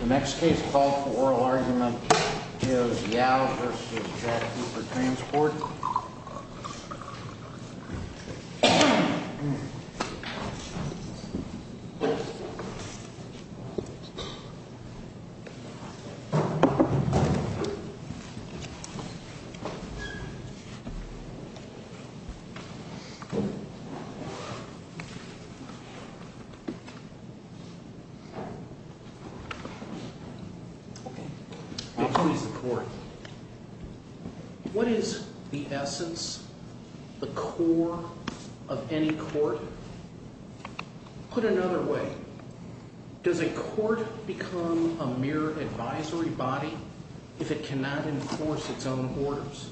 The next case called for oral argument is Yow v. Jack Cooper Transport. What is the essence, the core of any court? Put another way, does a court become a mere advisory body if it cannot enforce its own orders?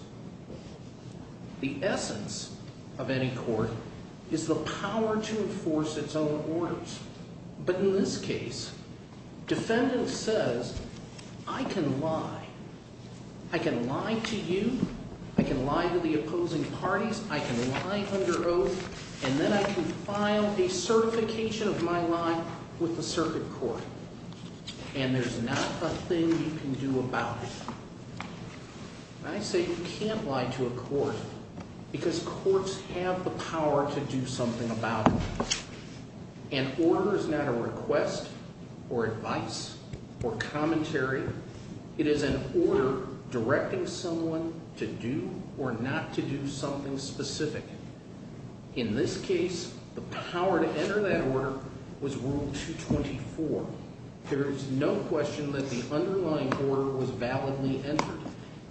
The essence of any court is the power to enforce its own orders. But in this case, defendant says, I can lie. I can lie to you. I can lie to the opposing parties. I can lie under oath. And then I can file a certification of my lie with the circuit court. And there's not a thing you can do about it. I say you can't lie to a court because courts have the power to do something about it. An order is not a request or advice or commentary. It is an order directing someone to do or not to do something specific. In this case, the power to enter that order was Rule 224. There is no question that the underlying order was validly entered.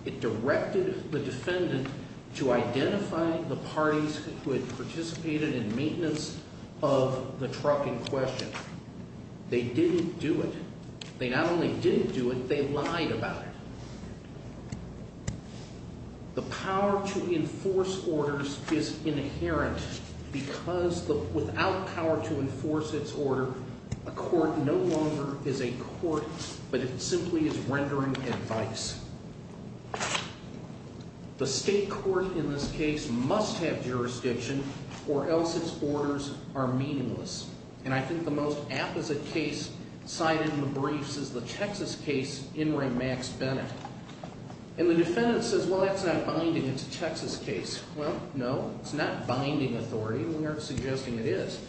It directed the defendant to identify the parties who had participated in maintenance of the truck in question. They didn't do it. They not only didn't do it, they lied about it. The power to enforce orders is inherent because without power to enforce its order, a court no longer is a court, but it simply is rendering advice. The state court in this case must have jurisdiction or else its orders are meaningless. And I think the most apposite case cited in the briefs is the Texas case, Ingram-Max Bennett. And the defendant says, well, that's not binding. It's a Texas case. Well, no, it's not binding authority. We aren't suggesting it is.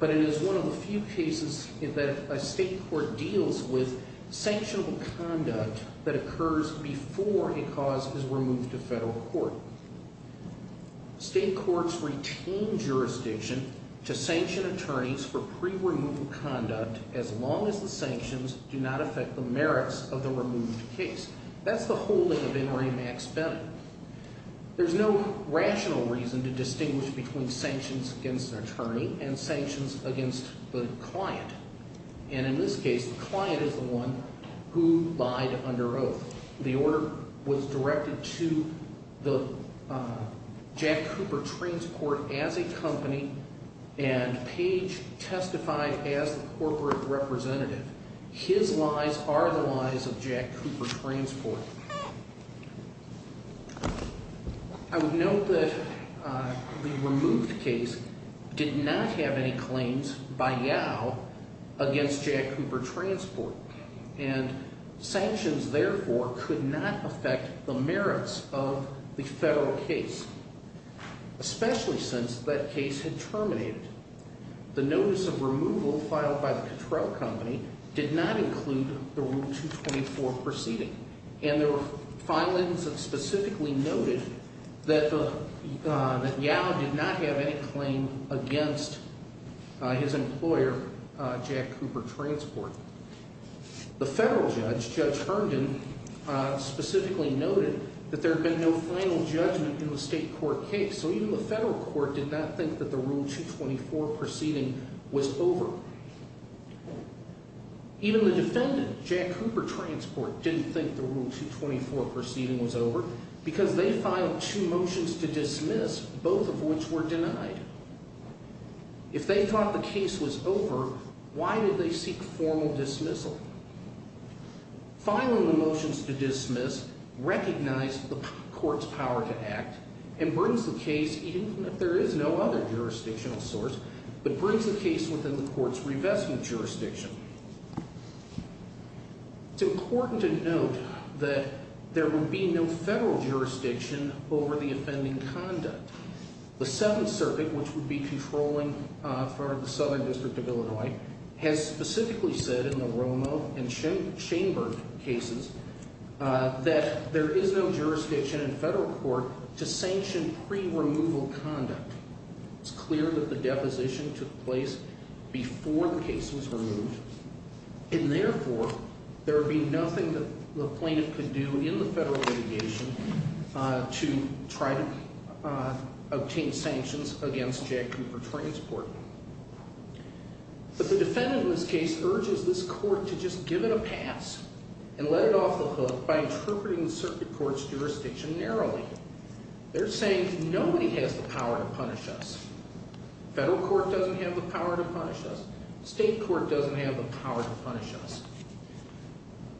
But it is one of the few cases that a state court deals with sanctionable conduct that occurs before a cause is removed to federal court. State courts retain jurisdiction to sanction attorneys for pre-removal conduct as long as the sanctions do not affect the merits of the removed case. That's the holding of Ingram-Max Bennett. There's no rational reason to distinguish between sanctions against an attorney and sanctions against the client. And in this case, the client is the one who lied under oath. The order was directed to the Jack Cooper Transport as a company, and Page testified as the corporate representative. His lies are the lies of Jack Cooper Transport. I would note that the removed case did not have any claims by YOW against Jack Cooper Transport. And sanctions, therefore, could not affect the merits of the federal case, especially since that case had terminated. The notice of removal filed by the control company did not include the Rule 224 proceeding. And there were filings that specifically noted that YOW did not have any claim against his employer, Jack Cooper Transport. The federal judge, Judge Herndon, specifically noted that there had been no final judgment in the state court case. So even the federal court did not think that the Rule 224 proceeding was over. Even the defendant, Jack Cooper Transport, didn't think the Rule 224 proceeding was over because they filed two motions to dismiss, both of which were denied. If they thought the case was over, why did they seek formal dismissal? Filing the motions to dismiss recognized the court's power to act and brings the case, even if there is no other jurisdictional source, but brings the case within the court's revestment jurisdiction. It's important to note that there would be no federal jurisdiction over the offending conduct. The Seventh Circuit, which would be controlling the Southern District of Illinois, has specifically said in the Romo and Schoenberg cases that there is no jurisdiction in federal court to sanction pre-removal conduct. It's clear that the deposition took place before the case was removed. And therefore, there would be nothing that the plaintiff could do in the federal litigation to try to obtain sanctions against Jack Cooper Transport. But the defendant in this case urges this court to just give it a pass and let it off by interpreting the circuit court's jurisdiction narrowly. They're saying nobody has the power to punish us. Federal court doesn't have the power to punish us. State court doesn't have the power to punish us.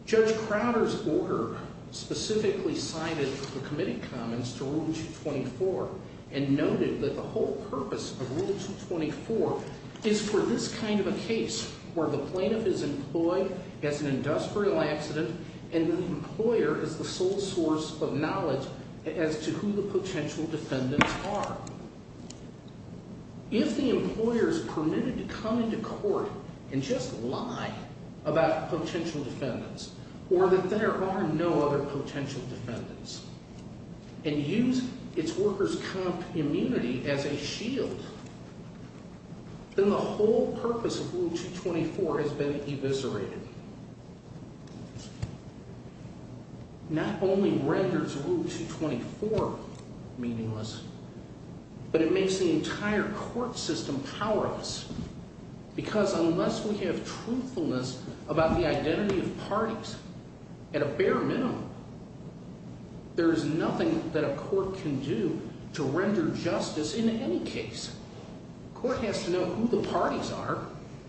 Judge Crowder's order specifically cited the committee comments to Rule 224 and noted that the whole purpose of Rule 224 is for this kind of a case where the plaintiff is employed as an industrial accident and the employer is the sole source of knowledge as to who the potential defendants are. If the employer is permitted to come into court and just lie about potential defendants or that there are no other potential defendants and use its workers' comp immunity as a shield, then the whole purpose of Rule 224 has been eviscerated. Not only renders Rule 224 meaningless, but it makes the entire court system powerless. Because unless we have truthfulness about the identity of parties at a bare minimum, there is nothing that a court can do to render justice in any case. Court has to know who the parties are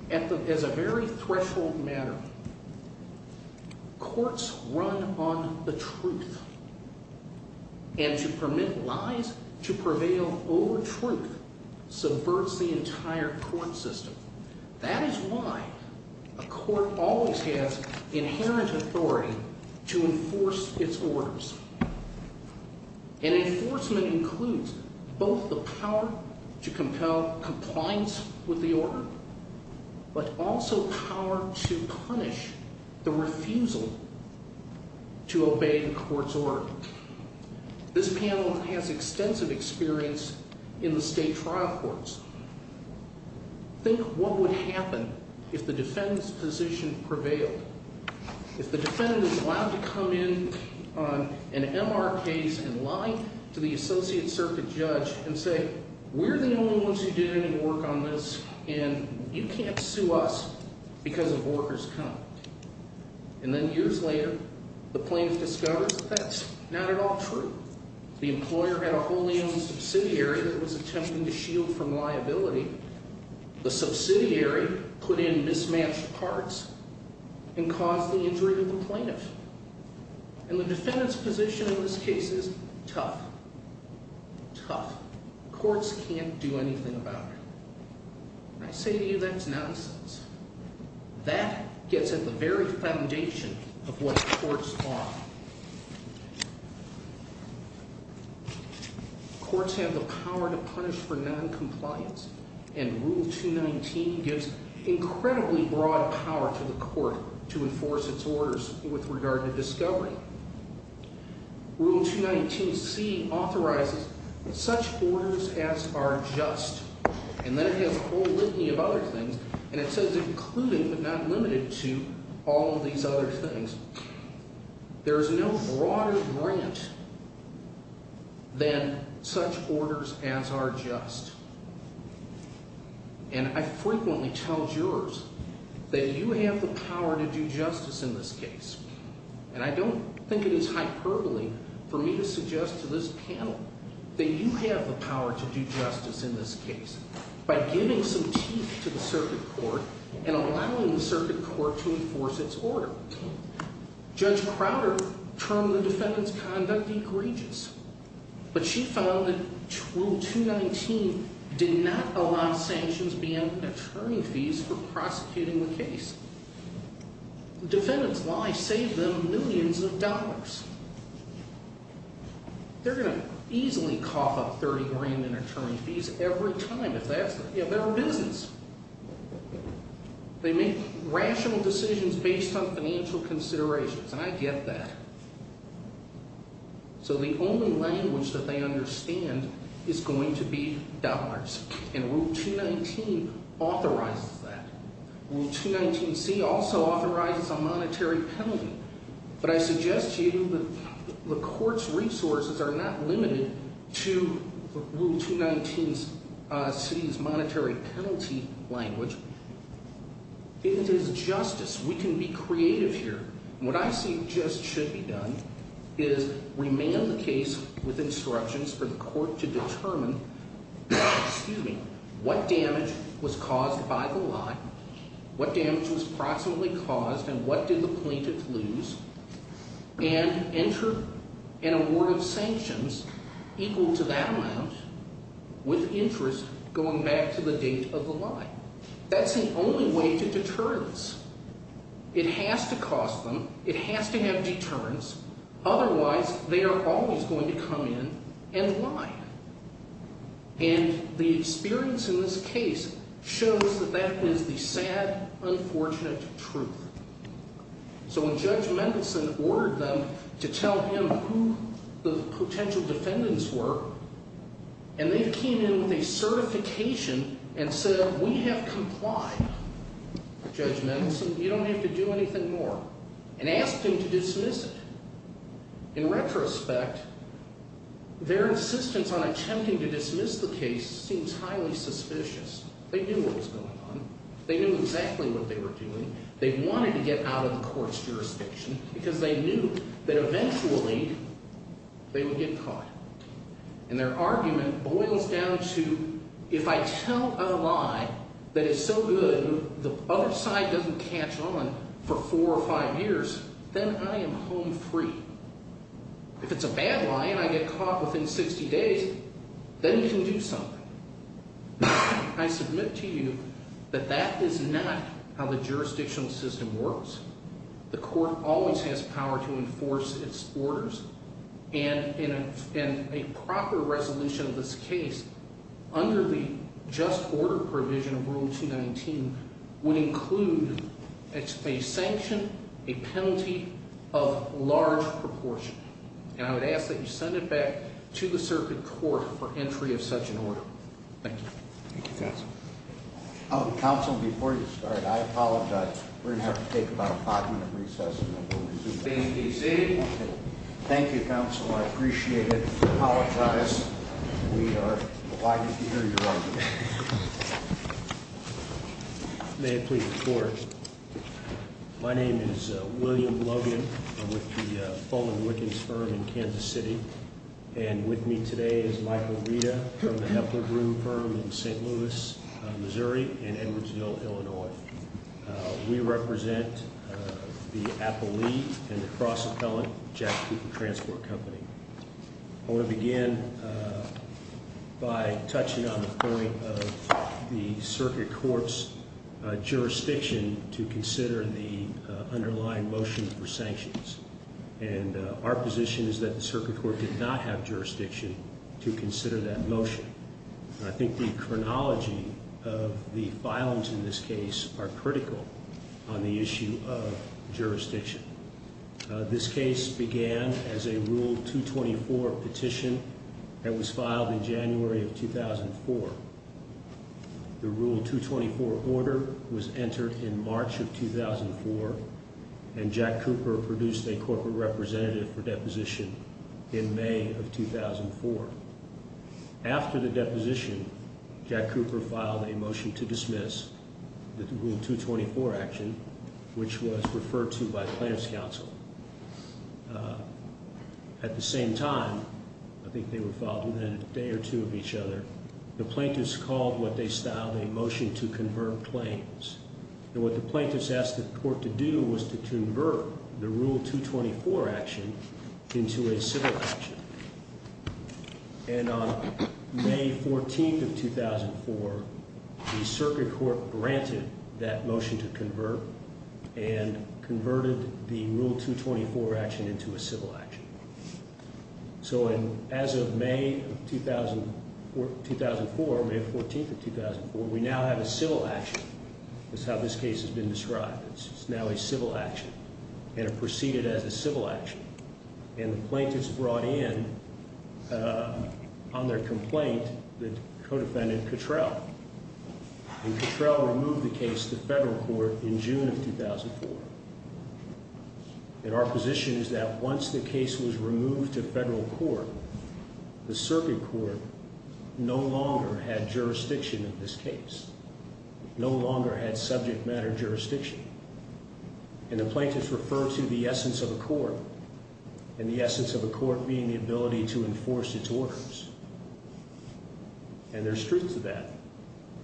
as a very threshold matter. Courts run on the truth. And to permit lies to prevail over truth subverts the entire court system. That is why a court always has inherent authority to enforce its orders. And enforcement includes both the power to compel compliance with the order, but also power to punish the refusal to obey the court's order. This panel has extensive experience in the state trial courts. Think what would happen if the defendant's position prevailed. If the defendant is allowed to come in on an MR case and lie to the associate circuit judge and say, we're the only ones who did any work on this and you can't sue us because of workers' comp. And then years later, the plaintiff discovers that that's not at all true. The employer had a wholly owned subsidiary that was attempting to shield from liability. The subsidiary put in mismatched parts and caused the injury of the plaintiff. And the defendant's position in this case is tough. Tough. Courts can't do anything about it. And I say to you, that's nonsense. That gets at the very foundation of what courts are. Courts have the power to punish for noncompliance. And Rule 219 gives incredibly broad power to the court to enforce its orders with regard to discovery. Rule 219C authorizes such orders as are just. And then it has a whole litany of other things. And it says included but not limited to all of these other things. There is no broader grant than such orders as are just. And I frequently tell jurors that you have the power to do justice in this case. And I don't think it is hyperbole for me to suggest to this panel that you have the power to do justice in this case by giving some teeth to the circuit court and allowing the circuit court to enforce its order. Judge Crowder termed the defendant's conduct egregious. But she found that Rule 219 did not allow sanctions beyond attorney fees for prosecuting the case. The defendant's lie saved them millions of dollars. They're going to easily cough up $30,000 in attorney fees every time if that's their business. They make rational decisions based on financial considerations. And I get that. So the only language that they understand is going to be dollars. And Rule 219 authorizes that. Rule 219C also authorizes a monetary penalty. But I suggest to you that the court's resources are not limited to Rule 219C's monetary penalty language. It is justice. We can be creative here. What I suggest should be done is remand the case with instructions for the court to determine what damage was caused by the lie, what damage was proximately caused, and what did the plaintiff lose, and enter an award of sanctions equal to that amount with interest going back to the date of the lie. That's the only way to deterrence. It has to cost them. It has to have deterrence. Otherwise, they are always going to come in and lie. And the experience in this case shows that that is the sad, unfortunate truth. So when Judge Mendelson ordered them to tell him who the potential defendants were, and they came in with a certification and said, We have complied, Judge Mendelson. You don't have to do anything more. And asked him to dismiss it. In retrospect, their insistence on attempting to dismiss the case seems highly suspicious. They knew what was going on. They knew exactly what they were doing. They wanted to get out of the court's jurisdiction because they knew that eventually they would get caught. And their argument boils down to, If I tell a lie that is so good the other side doesn't catch on for four or five years, then I am home free. If it's a bad lie and I get caught within 60 days, then you can do something. I submit to you that that is not how the jurisdictional system works. The court always has power to enforce its orders. And a proper resolution of this case, under the just order provision of Rule 219, would include a sanction, a penalty of large proportion. And I would ask that you send it back to the circuit court for entry of such an order. Thank you. Thank you, Counsel. Counsel, before you start, I apologize. We're going to have to take about a five-minute recess and then we'll resume. Thank you, Counsel. I appreciate it. I apologize. We are delighted to hear your argument. May I please report? My name is William Logan. I'm with the Fulman Wiggins Firm in Kansas City. And with me today is Michael Rita from the Heffler Broom Firm in St. Louis, Missouri, and Edwardsville, Illinois. We represent the Appellee and the Cross-Appellant Jack Cooper Transport Company. I want to begin by touching on the point of the circuit court's jurisdiction to consider the underlying motion for sanctions. And our position is that the circuit court did not have jurisdiction to consider that motion. I think the chronology of the violence in this case are critical on the issue of jurisdiction. This case began as a Rule 224 petition that was filed in January of 2004. The Rule 224 order was entered in March of 2004, and Jack Cooper produced a corporate representative for deposition in May of 2004. After the deposition, Jack Cooper filed a motion to dismiss the Rule 224 action, which was referred to by plaintiff's counsel. At the same time, I think they were filed within a day or two of each other, the plaintiffs called what they styled a motion to convert claims. And what the plaintiffs asked the court to do was to convert the Rule 224 action into a civil action. And on May 14th of 2004, the circuit court granted that motion to convert and converted the Rule 224 action into a civil action. So as of May of 2004, May 14th of 2004, we now have a civil action. That's how this case has been described. It's now a civil action, and it proceeded as a civil action. And the plaintiffs brought in on their complaint the co-defendant Cottrell. And Cottrell removed the case to federal court in June of 2004. And our position is that once the case was removed to federal court, the circuit court no longer had jurisdiction of this case, no longer had subject matter jurisdiction. And the plaintiffs referred to the essence of a court and the essence of a court being the ability to enforce its orders. And there's truth to that.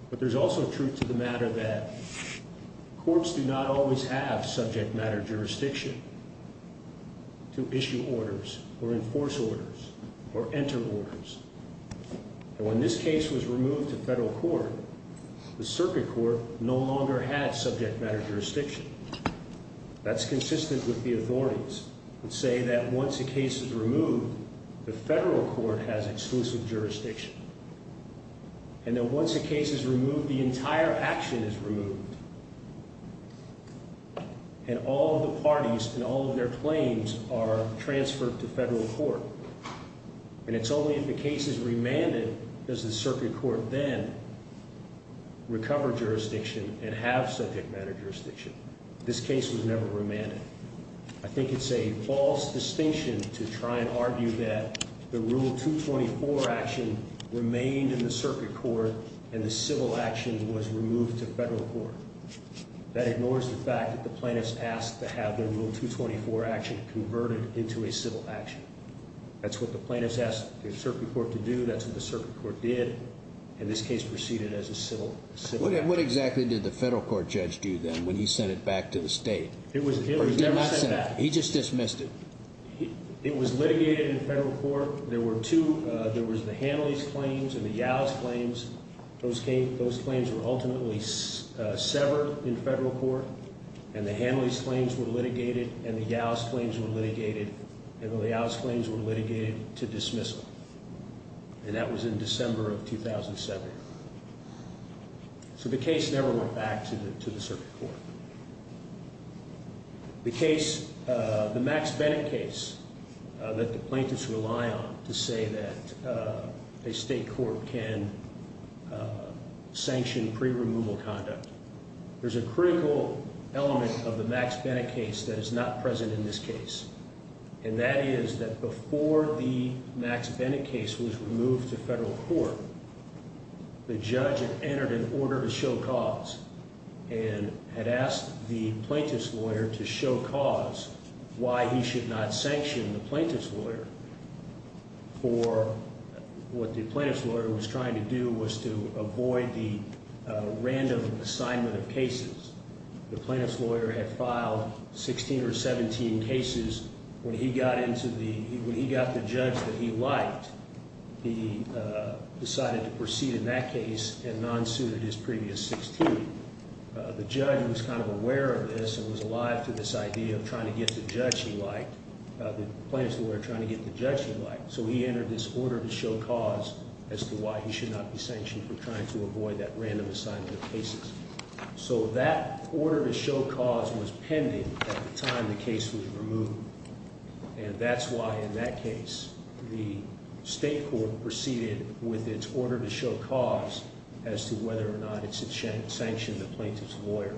But there's also truth to the matter that courts do not always have subject matter jurisdiction to issue orders or enforce orders or enter orders. And when this case was removed to federal court, the circuit court no longer had subject matter jurisdiction. That's consistent with the authorities that say that once a case is removed, the federal court has exclusive jurisdiction. And that once a case is removed, the entire action is removed. And all of the parties and all of their claims are transferred to federal court. And it's only if the case is remanded does the circuit court then recover jurisdiction and have subject matter jurisdiction. This case was never remanded. I think it's a false distinction to try and argue that the Rule 224 action remained in the circuit court and the civil action was removed to federal court. That ignores the fact that the plaintiffs asked to have the Rule 224 action converted into a civil action. That's what the plaintiffs asked the circuit court to do. That's what the circuit court did. And this case proceeded as a civil action. What exactly did the federal court judge do then when he sent it back to the state? It was never sent back. He just dismissed it. It was litigated in federal court. There were two. There was the Hanley's claims and the Yow's claims. Those claims were ultimately severed in federal court. And the Hanley's claims were litigated and the Yow's claims were litigated. And the Yow's claims were litigated to dismissal. And that was in December of 2007. So the case never went back to the circuit court. The case, the Max Bennett case that the plaintiffs rely on to say that a state court can sanction pre-removal conduct, there's a critical element of the Max Bennett case that is not present in this case. And that is that before the Max Bennett case was removed to federal court, the judge had entered an order to show cause and had asked the plaintiff's lawyer to show cause why he should not sanction the plaintiff's lawyer for what the plaintiff's lawyer was trying to do was to avoid the random assignment of cases. The plaintiff's lawyer had filed 16 or 17 cases. When he got the judge that he liked, he decided to proceed in that case and non-suited his previous 16. The judge was kind of aware of this and was alive to this idea of trying to get the judge he liked, the plaintiff's lawyer trying to get the judge he liked. So he entered this order to show cause as to why he should not be sanctioned for trying to avoid that random assignment of cases. So that order to show cause was pending at the time the case was removed. And that's why in that case, the state court proceeded with its order to show cause as to whether or not it should sanction the plaintiff's lawyer.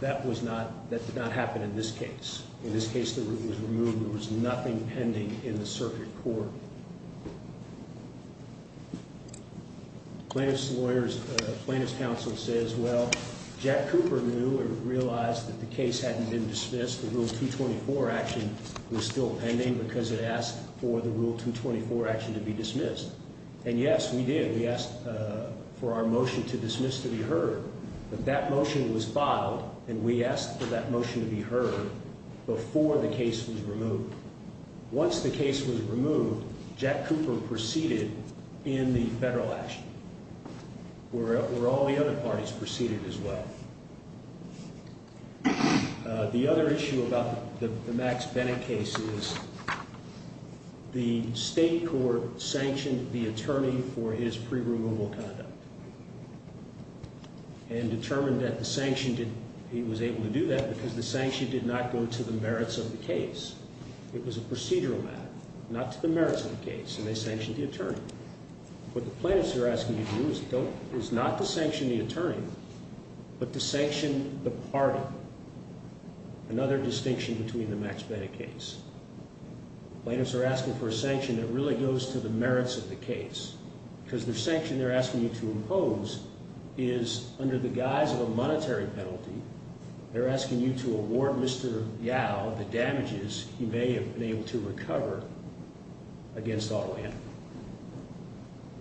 That did not happen in this case. In this case that was removed, there was nothing pending in the circuit court. The plaintiff's counsel says, well, Jack Cooper knew or realized that the case hadn't been dismissed. The Rule 224 action was still pending because it asked for the Rule 224 action to be dismissed. And yes, we did. We asked for our motion to dismiss to be heard. But that motion was filed, and we asked for that motion to be heard before the case was removed. Once the case was removed, Jack Cooper proceeded in the federal action, where all the other parties proceeded as well. The other issue about the Max Bennett case is the state court sanctioned the attorney for his pre-removal conduct and determined that he was able to do that because the sanction did not go to the merits of the case. It was a procedural matter, not to the merits of the case, and they sanctioned the attorney. What the plaintiffs are asking you to do is not to sanction the attorney, but to sanction the party, another distinction between the Max Bennett case. The plaintiffs are asking for a sanction that really goes to the merits of the case because the sanction they're asking you to impose is, under the guise of a monetary penalty, they're asking you to award Mr. Yao the damages he may have been able to recover against auto handling.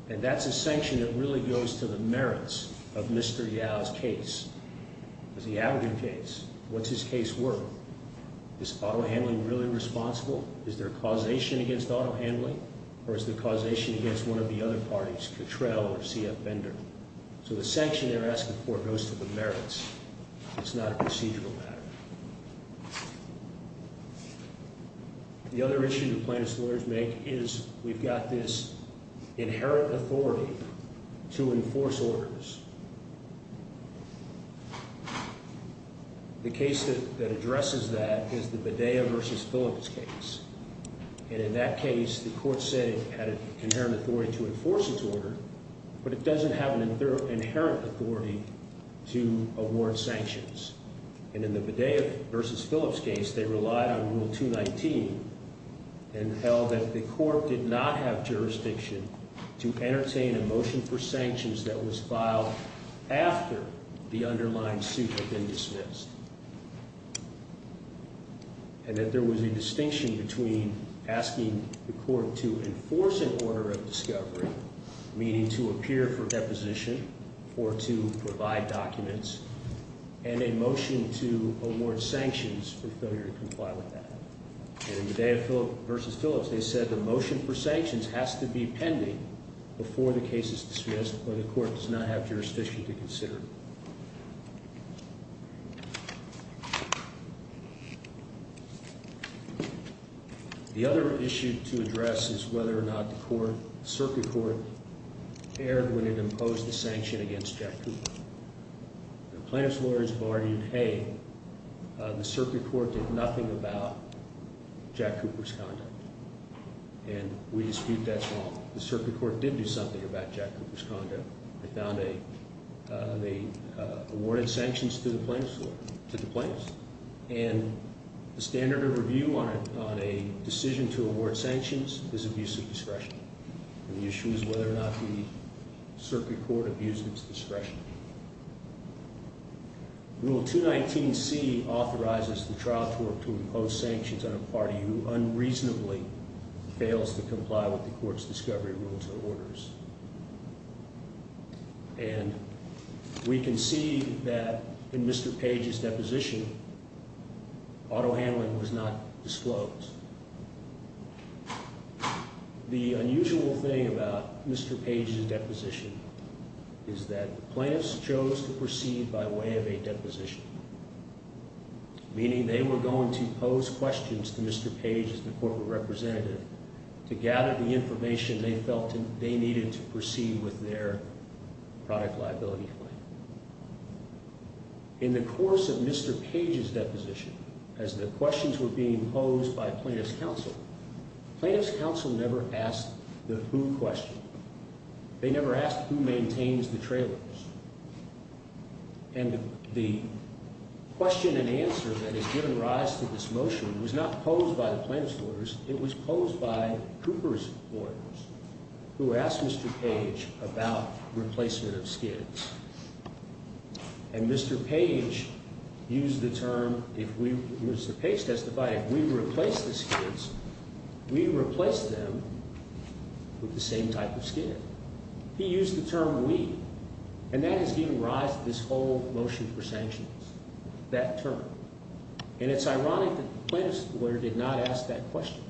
And that's a sanction that really goes to the merits of Mr. Yao's case. It's a Yao case. What's his case worth? Is auto handling really responsible? Is there causation against auto handling, or is there causation against one of the other parties, Cattrell or C.F. Bender? So the sanction they're asking for goes to the merits. It's not a procedural matter. The other issue the plaintiffs' lawyers make is we've got this inherent authority to enforce orders. The case that addresses that is the Bedea v. Phillips case. And in that case, the court said it had an inherent authority to enforce its order, but it doesn't have an inherent authority to award sanctions. And in the Bedea v. Phillips case, they relied on Rule 219 and held that the court did not have jurisdiction to entertain a motion for sanctions that was filed after the underlying suit had been dismissed. And that there was a distinction between asking the court to enforce an order of discovery, meaning to appear for deposition or to provide documents, and a motion to award sanctions for failure to comply with that. And in Bedea v. Phillips, they said the motion for sanctions has to be pending before the case is dismissed or the court does not have jurisdiction to consider it. The other issue to address is whether or not the circuit court erred when it imposed the sanction against Jack Cooper. The plaintiffs' lawyers have argued, hey, the circuit court did nothing about Jack Cooper's conduct. And we dispute that's wrong. The circuit court did do something about Jack Cooper's conduct. They awarded sanctions to the plaintiffs' lawyer, to the plaintiffs. And the standard of review on a decision to award sanctions is abuse of discretion. And the issue is whether or not the circuit court abused its discretion. Rule 219C authorizes the trial court to impose sanctions on a party who unreasonably fails to comply with the court's discovery rules or orders. And we can see that in Mr. Page's deposition, auto handling was not disclosed. The unusual thing about Mr. Page's deposition is that the plaintiffs chose to proceed by way of a deposition, meaning they were going to pose questions to Mr. Page as the corporate representative to gather the information they felt they needed to proceed with their product liability claim. In the course of Mr. Page's deposition, as the questions were being posed by plaintiffs' counsel, plaintiffs' counsel never asked the who question. They never asked who maintains the trailers. And the question and answer that has given rise to this motion was not posed by the plaintiffs' lawyers. It was posed by Cooper's lawyers who asked Mr. Page about replacement of skids. And Mr. Page used the term, Mr. Page testified, if we replace the skids, we replace them with the same type of skid. He used the term we, and that has given rise to this whole motion for sanctions, that term. And it's ironic that the plaintiffs' lawyer did not ask that question,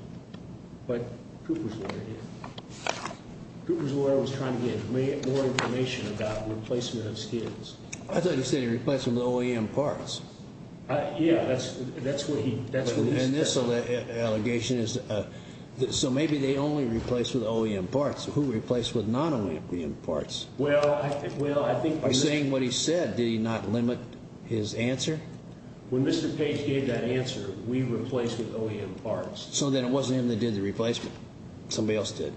but Cooper's lawyer did. Cooper's lawyer was trying to get more information about replacement of skids. I thought he said he replaced them with OEM parts. Yeah, that's what he said. And this allegation is, so maybe they only replaced with OEM parts. Who replaced with non-OEM parts? Well, I think by saying what he said, did he not limit his answer? When Mr. Page gave that answer, we replaced with OEM parts. So then it wasn't him that did the replacement. Somebody else did.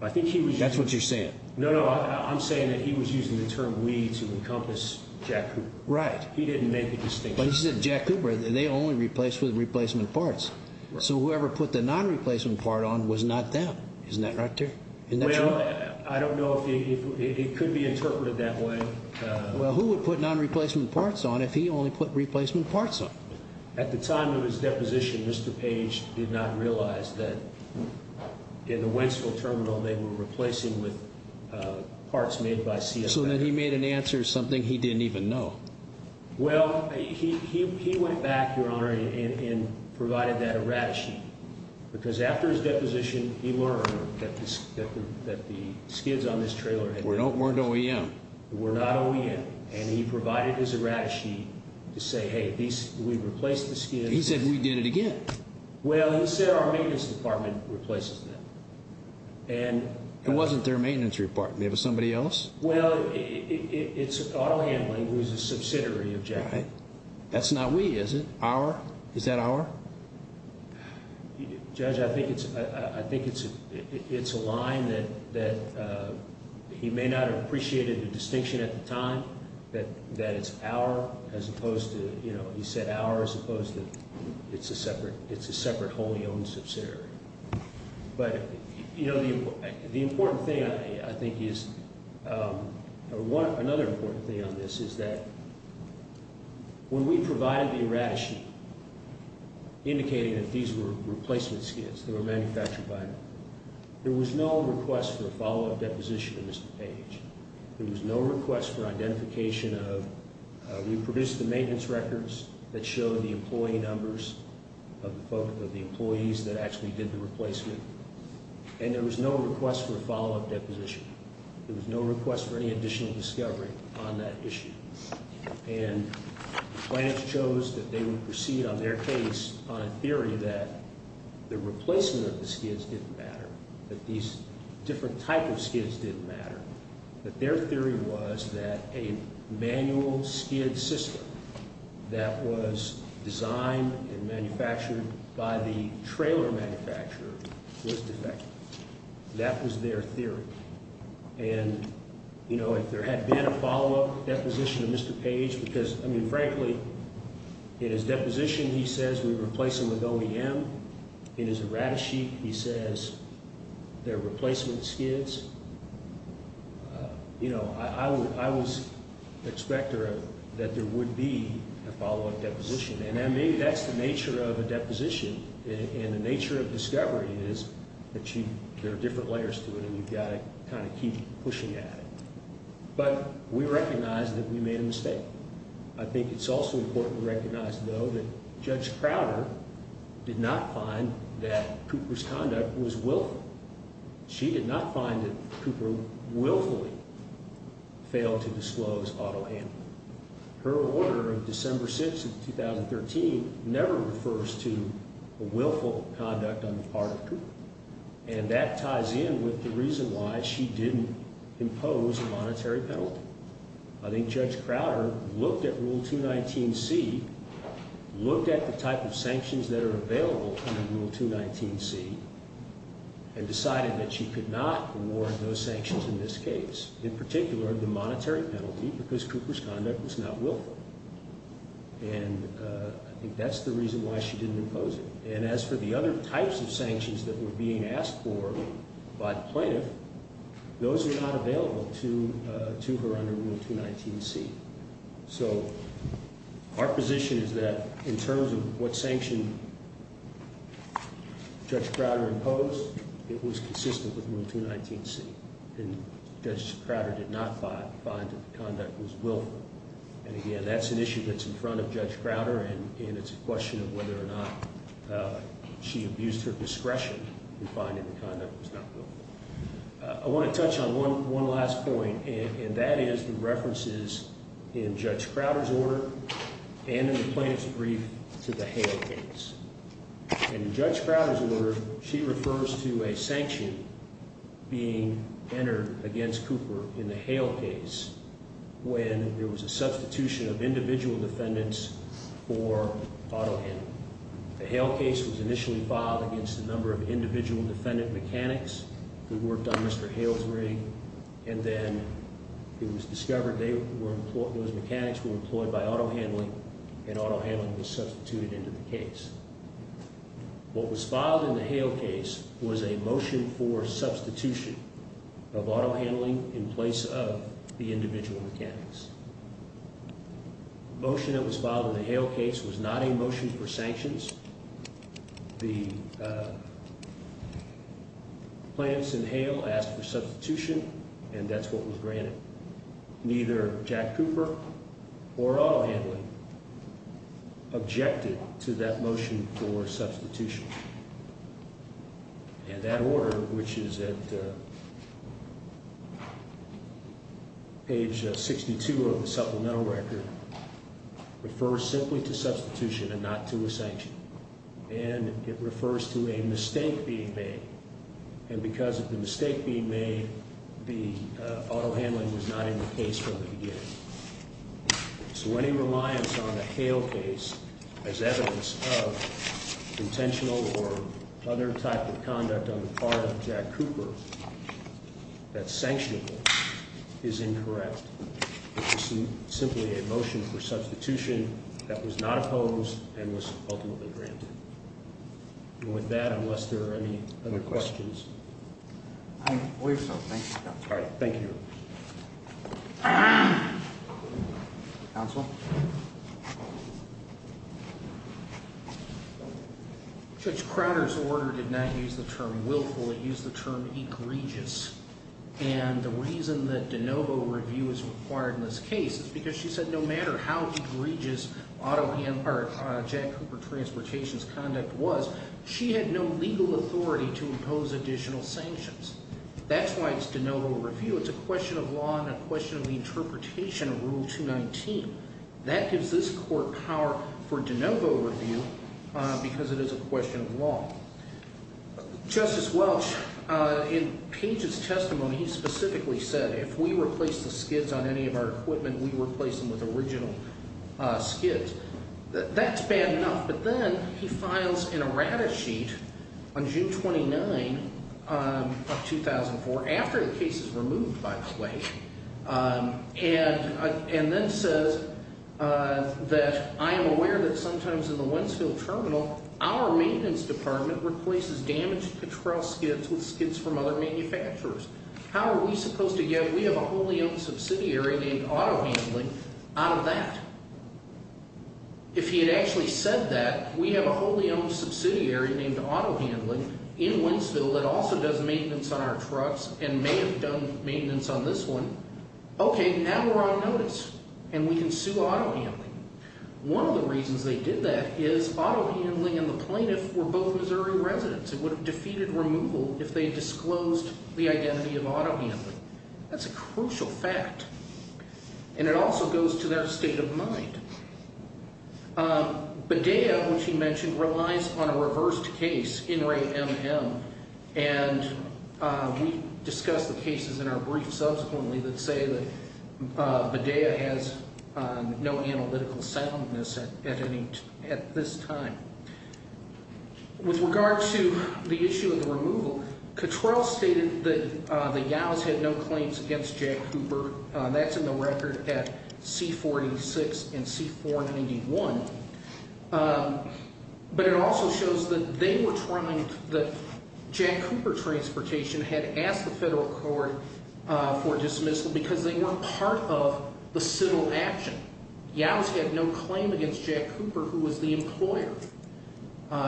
I think he was using That's what you're saying. No, no, I'm saying that he was using the term we to encompass Jack Cooper. Right. He didn't make the distinction. But he said Jack Cooper, they only replaced with replacement parts. So whoever put the non-replacement part on was not them. Isn't that right there? Isn't that true? Well, I don't know if it could be interpreted that way. Well, who would put non-replacement parts on if he only put replacement parts on? At the time of his deposition, Mr. Page did not realize that in the Wentzville terminal, they were replacing with parts made by CFM. So then he made an answer something he didn't even know. Well, he went back, Your Honor, and provided that errata sheet. Because after his deposition, he learned that the skids on this trailer Weren't OEM. Were not OEM. And he provided his errata sheet to say, hey, we replaced the skids. He said we did it again. Well, he said our maintenance department replaces them. It wasn't their maintenance department. It was somebody else? Well, it's Auto Handling, who is a subsidiary of Jack. That's not we, is it? Our? Is that our? Judge, I think it's a line that he may not have appreciated the distinction at the time, that it's our as opposed to, you know, he said our as opposed to it's a separate wholly owned subsidiary. But, you know, the important thing, I think, is another important thing on this is that When we provided the errata sheet, indicating that these were replacement skids that were manufactured by him, there was no request for a follow-up deposition of Mr. Page. There was no request for identification of We produced the maintenance records that showed the employee numbers of the employees that actually did the replacement. And there was no request for a follow-up deposition. There was no request for any additional discovery on that issue. And Plaintiffs chose that they would proceed on their case on a theory that the replacement of the skids didn't matter, that these different type of skids didn't matter, that their theory was that a manual skid system that was designed and manufactured by the trailer manufacturer was defective. That was their theory. And, you know, if there had been a follow-up deposition of Mr. Page, because, I mean, frankly, in his deposition, he says we replace them with OEM. In his errata sheet, he says they're replacement skids. You know, I was expector that there would be a follow-up deposition. And maybe that's the nature of a deposition. And the nature of discovery is that there are different layers to it, and you've got to kind of keep pushing at it. But we recognize that we made a mistake. I think it's also important to recognize, though, that Judge Crowder did not find that Cooper's conduct was willful. She did not find that Cooper willfully failed to disclose auto handling. Her order of December 6th of 2013 never refers to a willful conduct on the part of Cooper, and that ties in with the reason why she didn't impose a monetary penalty. I think Judge Crowder looked at Rule 219C, looked at the type of sanctions that are available under Rule 219C, and decided that she could not award those sanctions in this case, in particular the monetary penalty, because Cooper's conduct was not willful. And I think that's the reason why she didn't impose it. And as for the other types of sanctions that were being asked for by the plaintiff, those are not available to her under Rule 219C. So our position is that in terms of what sanction Judge Crowder imposed, it was consistent with Rule 219C. And Judge Crowder did not find that the conduct was willful. And again, that's an issue that's in front of Judge Crowder, and it's a question of whether or not she abused her discretion in finding the conduct was not willful. I want to touch on one last point, and that is the references in Judge Crowder's order and in the plaintiff's brief to the Hale case. In Judge Crowder's order, she refers to a sanction being entered against Cooper in the Hale case when there was a substitution of individual defendants for auto handling. The Hale case was initially filed against a number of individual defendant mechanics who worked on Mr. Hale's rig, and then it was discovered those mechanics were employed by auto handling, and auto handling was substituted into the case. What was filed in the Hale case was a motion for substitution of auto handling in place of the individual mechanics. The motion that was filed in the Hale case was not a motion for sanctions. The plaintiffs in Hale asked for substitution, and that's what was granted. Neither Jack Cooper or auto handling objected to that motion for substitution. And that order, which is at page 62 of the supplemental record, refers simply to substitution and not to a sanction. And it refers to a mistake being made, and because of the mistake being made, the auto handling was not in the case from the beginning. So any reliance on the Hale case as evidence of intentional or other type of conduct on the part of Jack Cooper that's sanctionable is incorrect. It was simply a motion for substitution that was not opposed and was ultimately granted. And with that, unless there are any other questions. I believe so. Thank you. All right. Thank you. Counsel? Judge Crowder's order did not use the term willful. It used the term egregious. And the reason that de novo review is required in this case is because she said no matter how egregious Jack Cooper Transportation's conduct was, she had no legal authority to impose additional sanctions. That's why it's de novo review. It's a question of law and a question of the interpretation of Rule 219. That gives this court power for de novo review because it is a question of law. Justice Welch, in Page's testimony, he specifically said if we replace the skids on any of our equipment, we replace them with original skids. That's bad enough. But then he files an errata sheet on June 29 of 2004, after the case is removed, by the way, and then says that I am aware that sometimes in the Wentzville Terminal, our maintenance department replaces damaged patrol skids with skids from other manufacturers. How are we supposed to get we have a wholly owned subsidiary named Auto Handling out of that? If he had actually said that, we have a wholly owned subsidiary named Auto Handling in Wentzville that also does maintenance on our trucks and may have done maintenance on this one. Okay, now we're on notice and we can sue Auto Handling. One of the reasons they did that is Auto Handling and the plaintiff were both Missouri residents. It would have defeated removal if they disclosed the identity of Auto Handling. That's a crucial fact. And it also goes to their state of mind. Badea, which he mentioned, relies on a reversed case, Inmate MM, and we discuss the cases in our brief subsequently that say that Badea has no analytical soundness at this time. With regard to the issue of the removal, Cutrell stated that the YOWs had no claims against Jack Cooper. That's in the record at C-486 and C-491. But it also shows that they were trying, that Jack Cooper Transportation had asked the federal court for dismissal because they weren't part of the civil action. YOWs had no claim against Jack Cooper, who was the employer.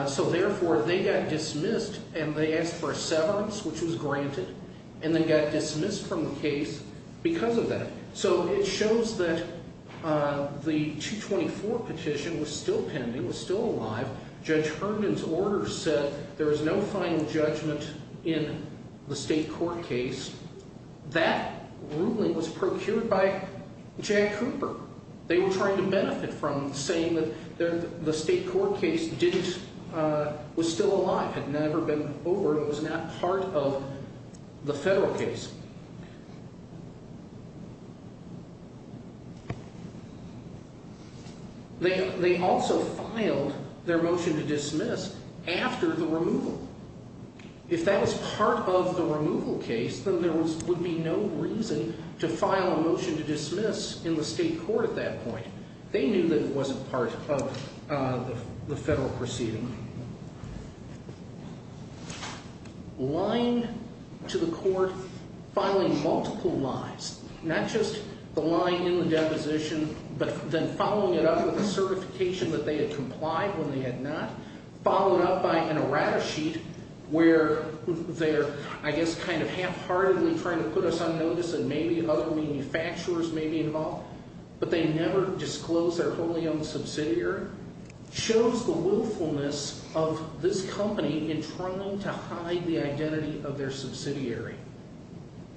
So therefore, they got dismissed and they asked for a severance, which was granted, and then got dismissed from the case because of that. So it shows that the 224 petition was still pending, was still alive. Judge Herndon's orders said there was no final judgment in the state court case. That ruling was procured by Jack Cooper. They were trying to benefit from saying that the state court case didn't, was still alive, had never been over, it was not part of the federal case. They also filed their motion to dismiss after the removal. If that was part of the removal case, then there would be no reason to file a motion to dismiss in the state court at that point. They knew that it wasn't part of the federal proceeding. Lying to the court, filing multiple lies, not just the lying in the deposition, but then following it up with a certification that they had complied when they had not, followed up by an errata sheet where they're, I guess, kind of half-heartedly trying to put us on notice and maybe other manufacturers may be involved, but they never disclosed their wholly owned subsidiary, shows the willfulness of this company in trying to hide the identity of their subsidiary.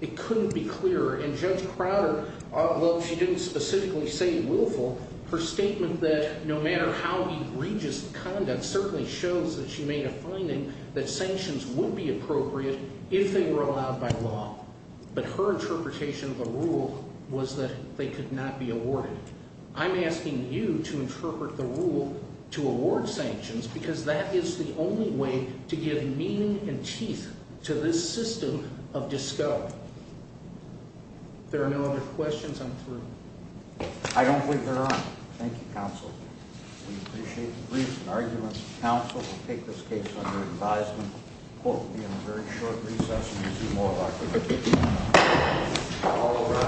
It couldn't be clearer, and Judge Crowder, although she didn't specifically say willful, her statement that no matter how egregious conduct certainly shows that she made a finding that sanctions would be appropriate if they were allowed by law. But her interpretation of the rule was that they could not be awarded. I'm asking you to interpret the rule to award sanctions because that is the only way to give meaning and teeth to this system of disco. If there are no other questions, I'm through. I don't believe there are. Thank you, counsel. We appreciate the briefs and arguments. Counsel will take this case under advisement, quote, in a very short recess.